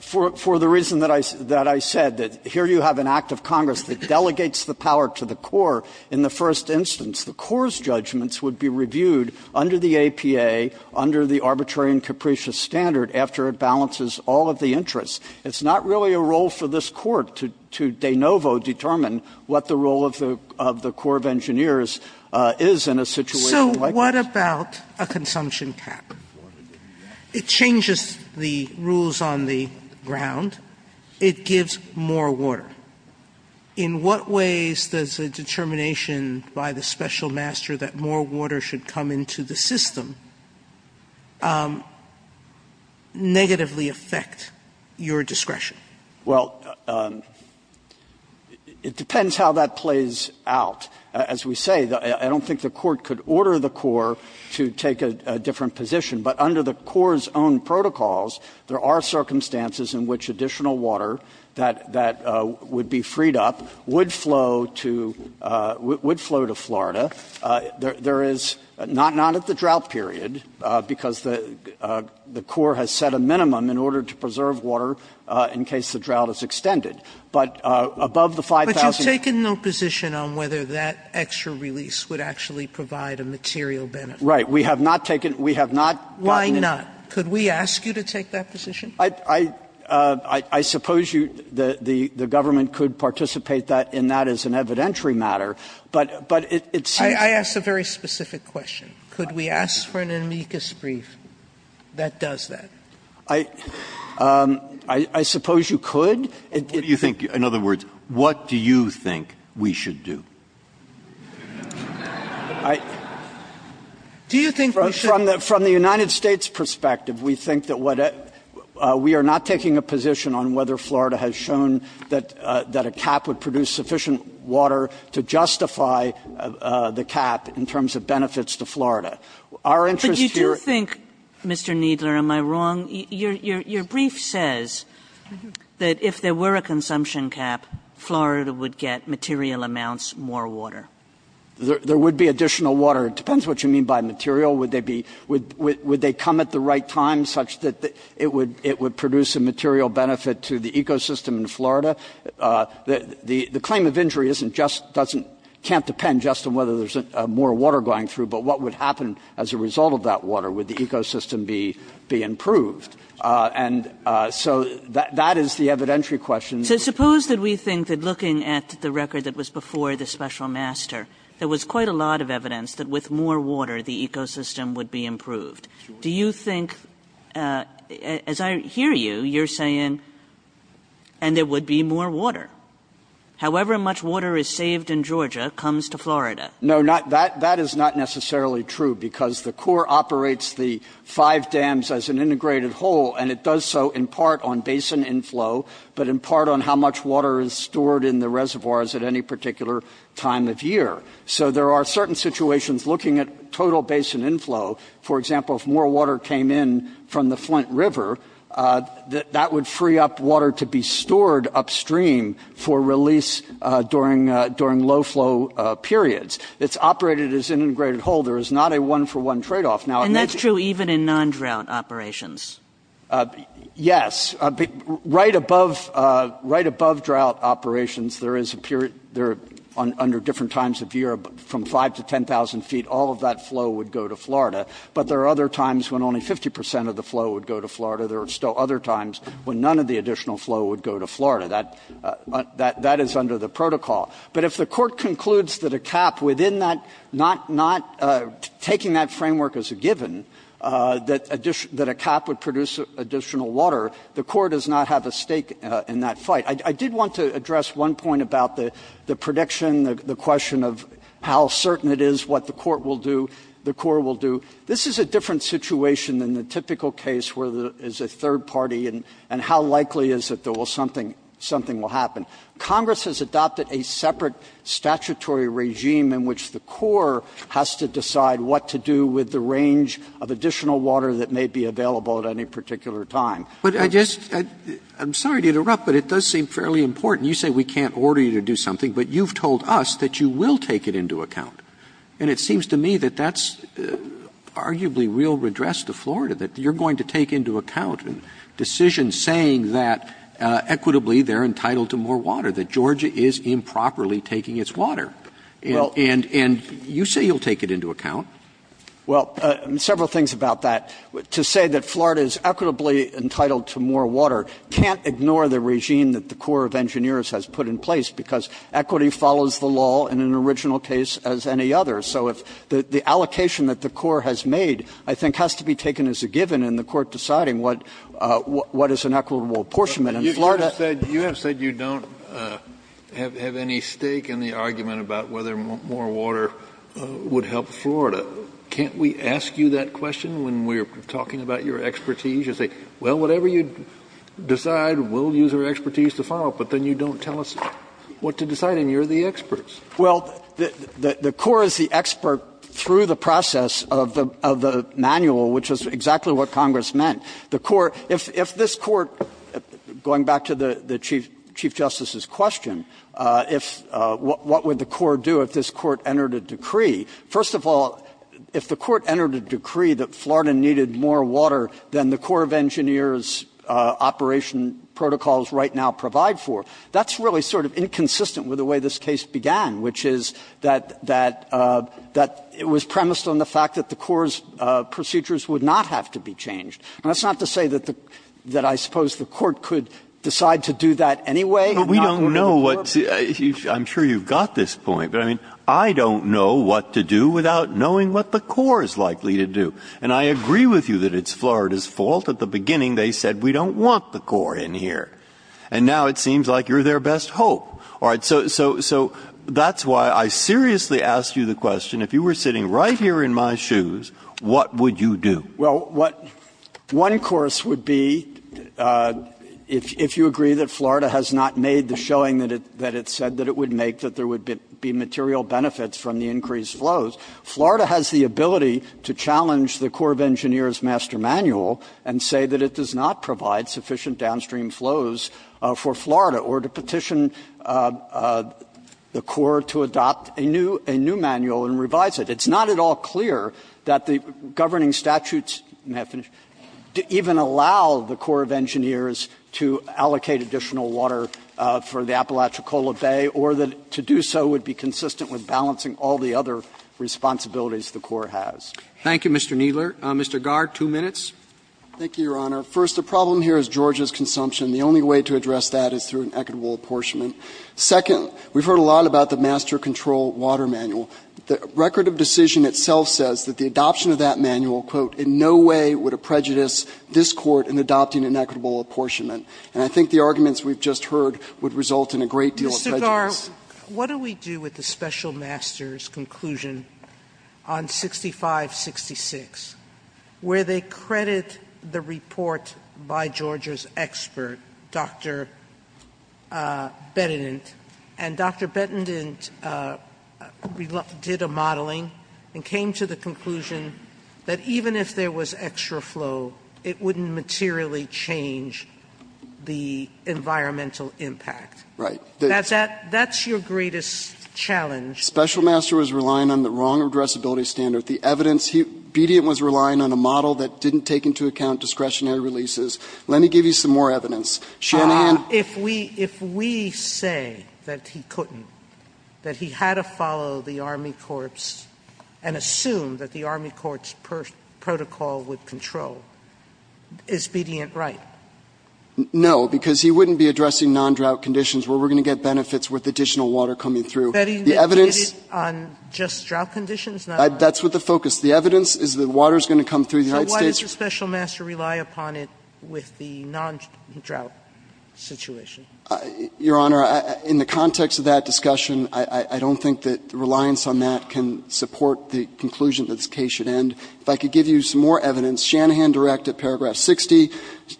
For the reason that I said, that here you have an act of Congress that delegates the power to the Corps in the first instance. The Corps' judgments would be reviewed under the APA, under the arbitrary and capricious standard, after it balances all of the interests. It's not really a role for this Court to de novo determine what the role of the Corps of Engineers is in a situation like this. Sotomayor, what about a consumption cap? It changes the rules on the ground. It gives more water. In what ways does a determination by the special master that more water should come into the system negatively affect your discretion? Well, it depends how that plays out. As we say, I don't think the Court could order the Corps to take a different position. But under the Corps' own protocols, there are circumstances in which additional water that would be freed up would flow to Florida. There is not at the drought period, because the Corps has set a minimum in order to preserve water in case the drought is extended. But above the 5,000. We have taken no position on whether that extra release would actually provide a material benefit. Right. We have not taken we have not gotten. Why not? Could we ask you to take that position? I suppose you, the government could participate in that as an evidentiary matter, but it's. I ask a very specific question. Could we ask for an amicus brief that does that? I suppose you could. What do you think? In other words, what do you think we should do? Do you think we should? From the United States' perspective, we think that what we are not taking a position on whether Florida has shown that a cap would produce sufficient water to justify the cap in terms of benefits to Florida. Our interest here. But you do think, Mr. Kneedler, am I wrong? Your brief says that if there were a consumption cap, Florida would get material amounts more water. There would be additional water. It depends what you mean by material. Would they come at the right time such that it would produce a material benefit to the ecosystem in Florida? The claim of injury can't depend just on whether there is more water going through, but what would happen as a result of that water? Would the ecosystem be improved? And so that is the evidentiary question. Kagan. So suppose that we think that looking at the record that was before the special master, there was quite a lot of evidence that with more water, the ecosystem would be improved. Do you think, as I hear you, you're saying, and there would be more water. However much water is saved in Georgia comes to Florida. No, not that. That is not necessarily true because the core operates the five dams as an integrated whole, and it does so in part on basin inflow, but in part on how much water is stored in the reservoirs at any particular time of year. So there are certain situations looking at total basin inflow. For example, if more water came in from the Flint River, that would free up upstream for release during low flow periods. It's operated as an integrated whole. There is not a one-for-one tradeoff. And that's true even in non-drought operations. Yes. Right above drought operations, there is a period under different times of year from 5,000 to 10,000 feet, all of that flow would go to Florida. But there are other times when only 50% of the flow would go to Florida. There are still other times when none of the additional flow would go to Florida. That is under the protocol. But if the Court concludes that a cap within that, not taking that framework as a given, that a cap would produce additional water, the Court does not have a stake in that fight. I did want to address one point about the prediction, the question of how certain it is what the Court will do, the Corps will do. This is a different situation than the typical case where there is a third party and how likely is it that something will happen. Congress has adopted a separate statutory regime in which the Corps has to decide what to do with the range of additional water that may be available at any particular time. But I just — I'm sorry to interrupt, but it does seem fairly important. You say we can't order you to do something, but you've told us that you will take it into account. And it seems to me that that's arguably real redress to Florida, that you're going to take into account decisions saying that equitably they're entitled to more water, that Georgia is improperly taking its water. And you say you'll take it into account. Well, several things about that. To say that Florida is equitably entitled to more water can't ignore the regime that the Corps of Engineers has put in place, because equity follows the law in an equitable proportion. It's not the same as any other. So if the allocation that the Corps has made, I think, has to be taken as a given in the Court deciding what is an equitable portion. And Florida — Kennedy, you have said you don't have any stake in the argument about whether more water would help Florida. Can't we ask you that question when we're talking about your expertise? You say, well, whatever you decide, we'll use our expertise to follow. But then you don't tell us what to decide, and you're the experts. Well, the Corps is the expert through the process of the manual, which is exactly what Congress meant. The Corps — if this Court — going back to the Chief Justice's question, what would the Corps do if this Court entered a decree? First of all, if the Court entered a decree that Florida needed more water than the Corps of Engineers operation protocols right now provide for, that's really sort of inconsistent with the way this case began, which is that — that it was premised on the fact that the Corps' procedures would not have to be changed. And that's not to say that the — that I suppose the Court could decide to do that anyway and not go to the Corps. But we don't know what — I'm sure you've got this point. But, I mean, I don't know what to do without knowing what the Corps is likely to do. And I agree with you that it's Florida's fault. At the beginning, they said, we don't want the Corps in here. And now it seems like you're their best hope. All right. So that's why I seriously ask you the question, if you were sitting right here in my shoes, what would you do? Well, what — one course would be, if you agree that Florida has not made the showing that it said that it would make, that there would be material benefits from the increased flows. Florida has the ability to challenge the Corps of Engineers' master manual and say that it does not provide sufficient downstream flows for Florida, or to petition the Corps to adopt a new manual and revise it. It's not at all clear that the governing statutes even allow the Corps of Engineers to allocate additional water for the Apalachicola Bay, or that to do so would be consistent with balancing all the other responsibilities the Corps has. Thank you, Mr. Kneedler. Mr. Garr, two minutes. Thank you, Your Honor. First, the problem here is Georgia's consumption. The only way to address that is through an equitable apportionment. Second, we've heard a lot about the master control water manual. The record of decision itself says that the adoption of that manual, quote, in no way would it prejudice this Court in adopting an equitable apportionment. And I think the arguments we've just heard would result in a great deal of prejudice. Mr. Garr, what do we do with the special master's conclusion on 6566, where they credit the report by Georgia's expert, Dr. Bettendent, and Dr. Bettendent did a modeling and came to the conclusion that even if there was extra flow, it wouldn't materially change the environmental impact. Right. That's your greatest challenge. Special master was relying on the wrong addressability standard. The evidence, Bettendent was relying on a model that didn't take into account discretionary releases. Let me give you some more evidence. Shanahan. If we say that he couldn't, that he had to follow the Army Corps and assume that the Army Corps protocol would control, is Bettendent right? No, because he wouldn't be addressing nondrought conditions where we're going to get benefits with additional water coming through. The evidence. Bettendent did it on just drought conditions? That's what the focus. The evidence is that water is going to come through the United States. So why does the special master rely upon it with the nondrought situation? Your Honor, in the context of that discussion, I don't think that reliance on that can support the conclusion that this case should end. If I could give you some more evidence. Shanahan direct at paragraph 60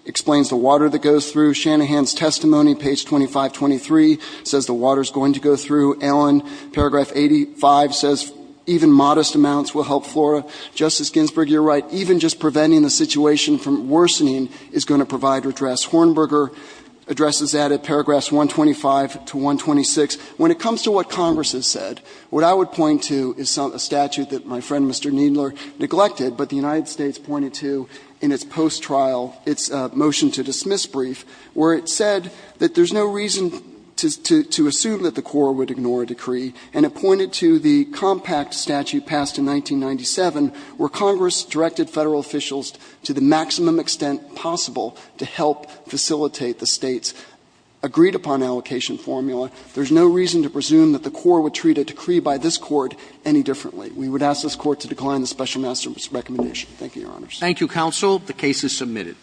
explains the water that goes through. Shanahan's testimony, page 2523, says the water is going to go through. Allen, paragraph 85, says even modest amounts will help flora. Justice Ginsburg, you're right. Even just preventing the situation from worsening is going to provide redress. Hornberger addresses that at paragraphs 125 to 126. When it comes to what Congress has said, what I would point to is a statute that my friend, Mr. Kneedler, neglected, but the United States pointed to in its post-trial, its motion to dismiss brief, where it said that there's no reason to assume that the Court would ignore a decree. And it pointed to the compact statute passed in 1997 where Congress directed Federal officials to the maximum extent possible to help facilitate the State's agreed-upon allocation formula. There's no reason to presume that the Court would treat a decree by this Court any differently. We would ask this Court to decline the special master's recommendation. Thank you, Your Honors. Roberts. Thank you, counsel. The case is submitted.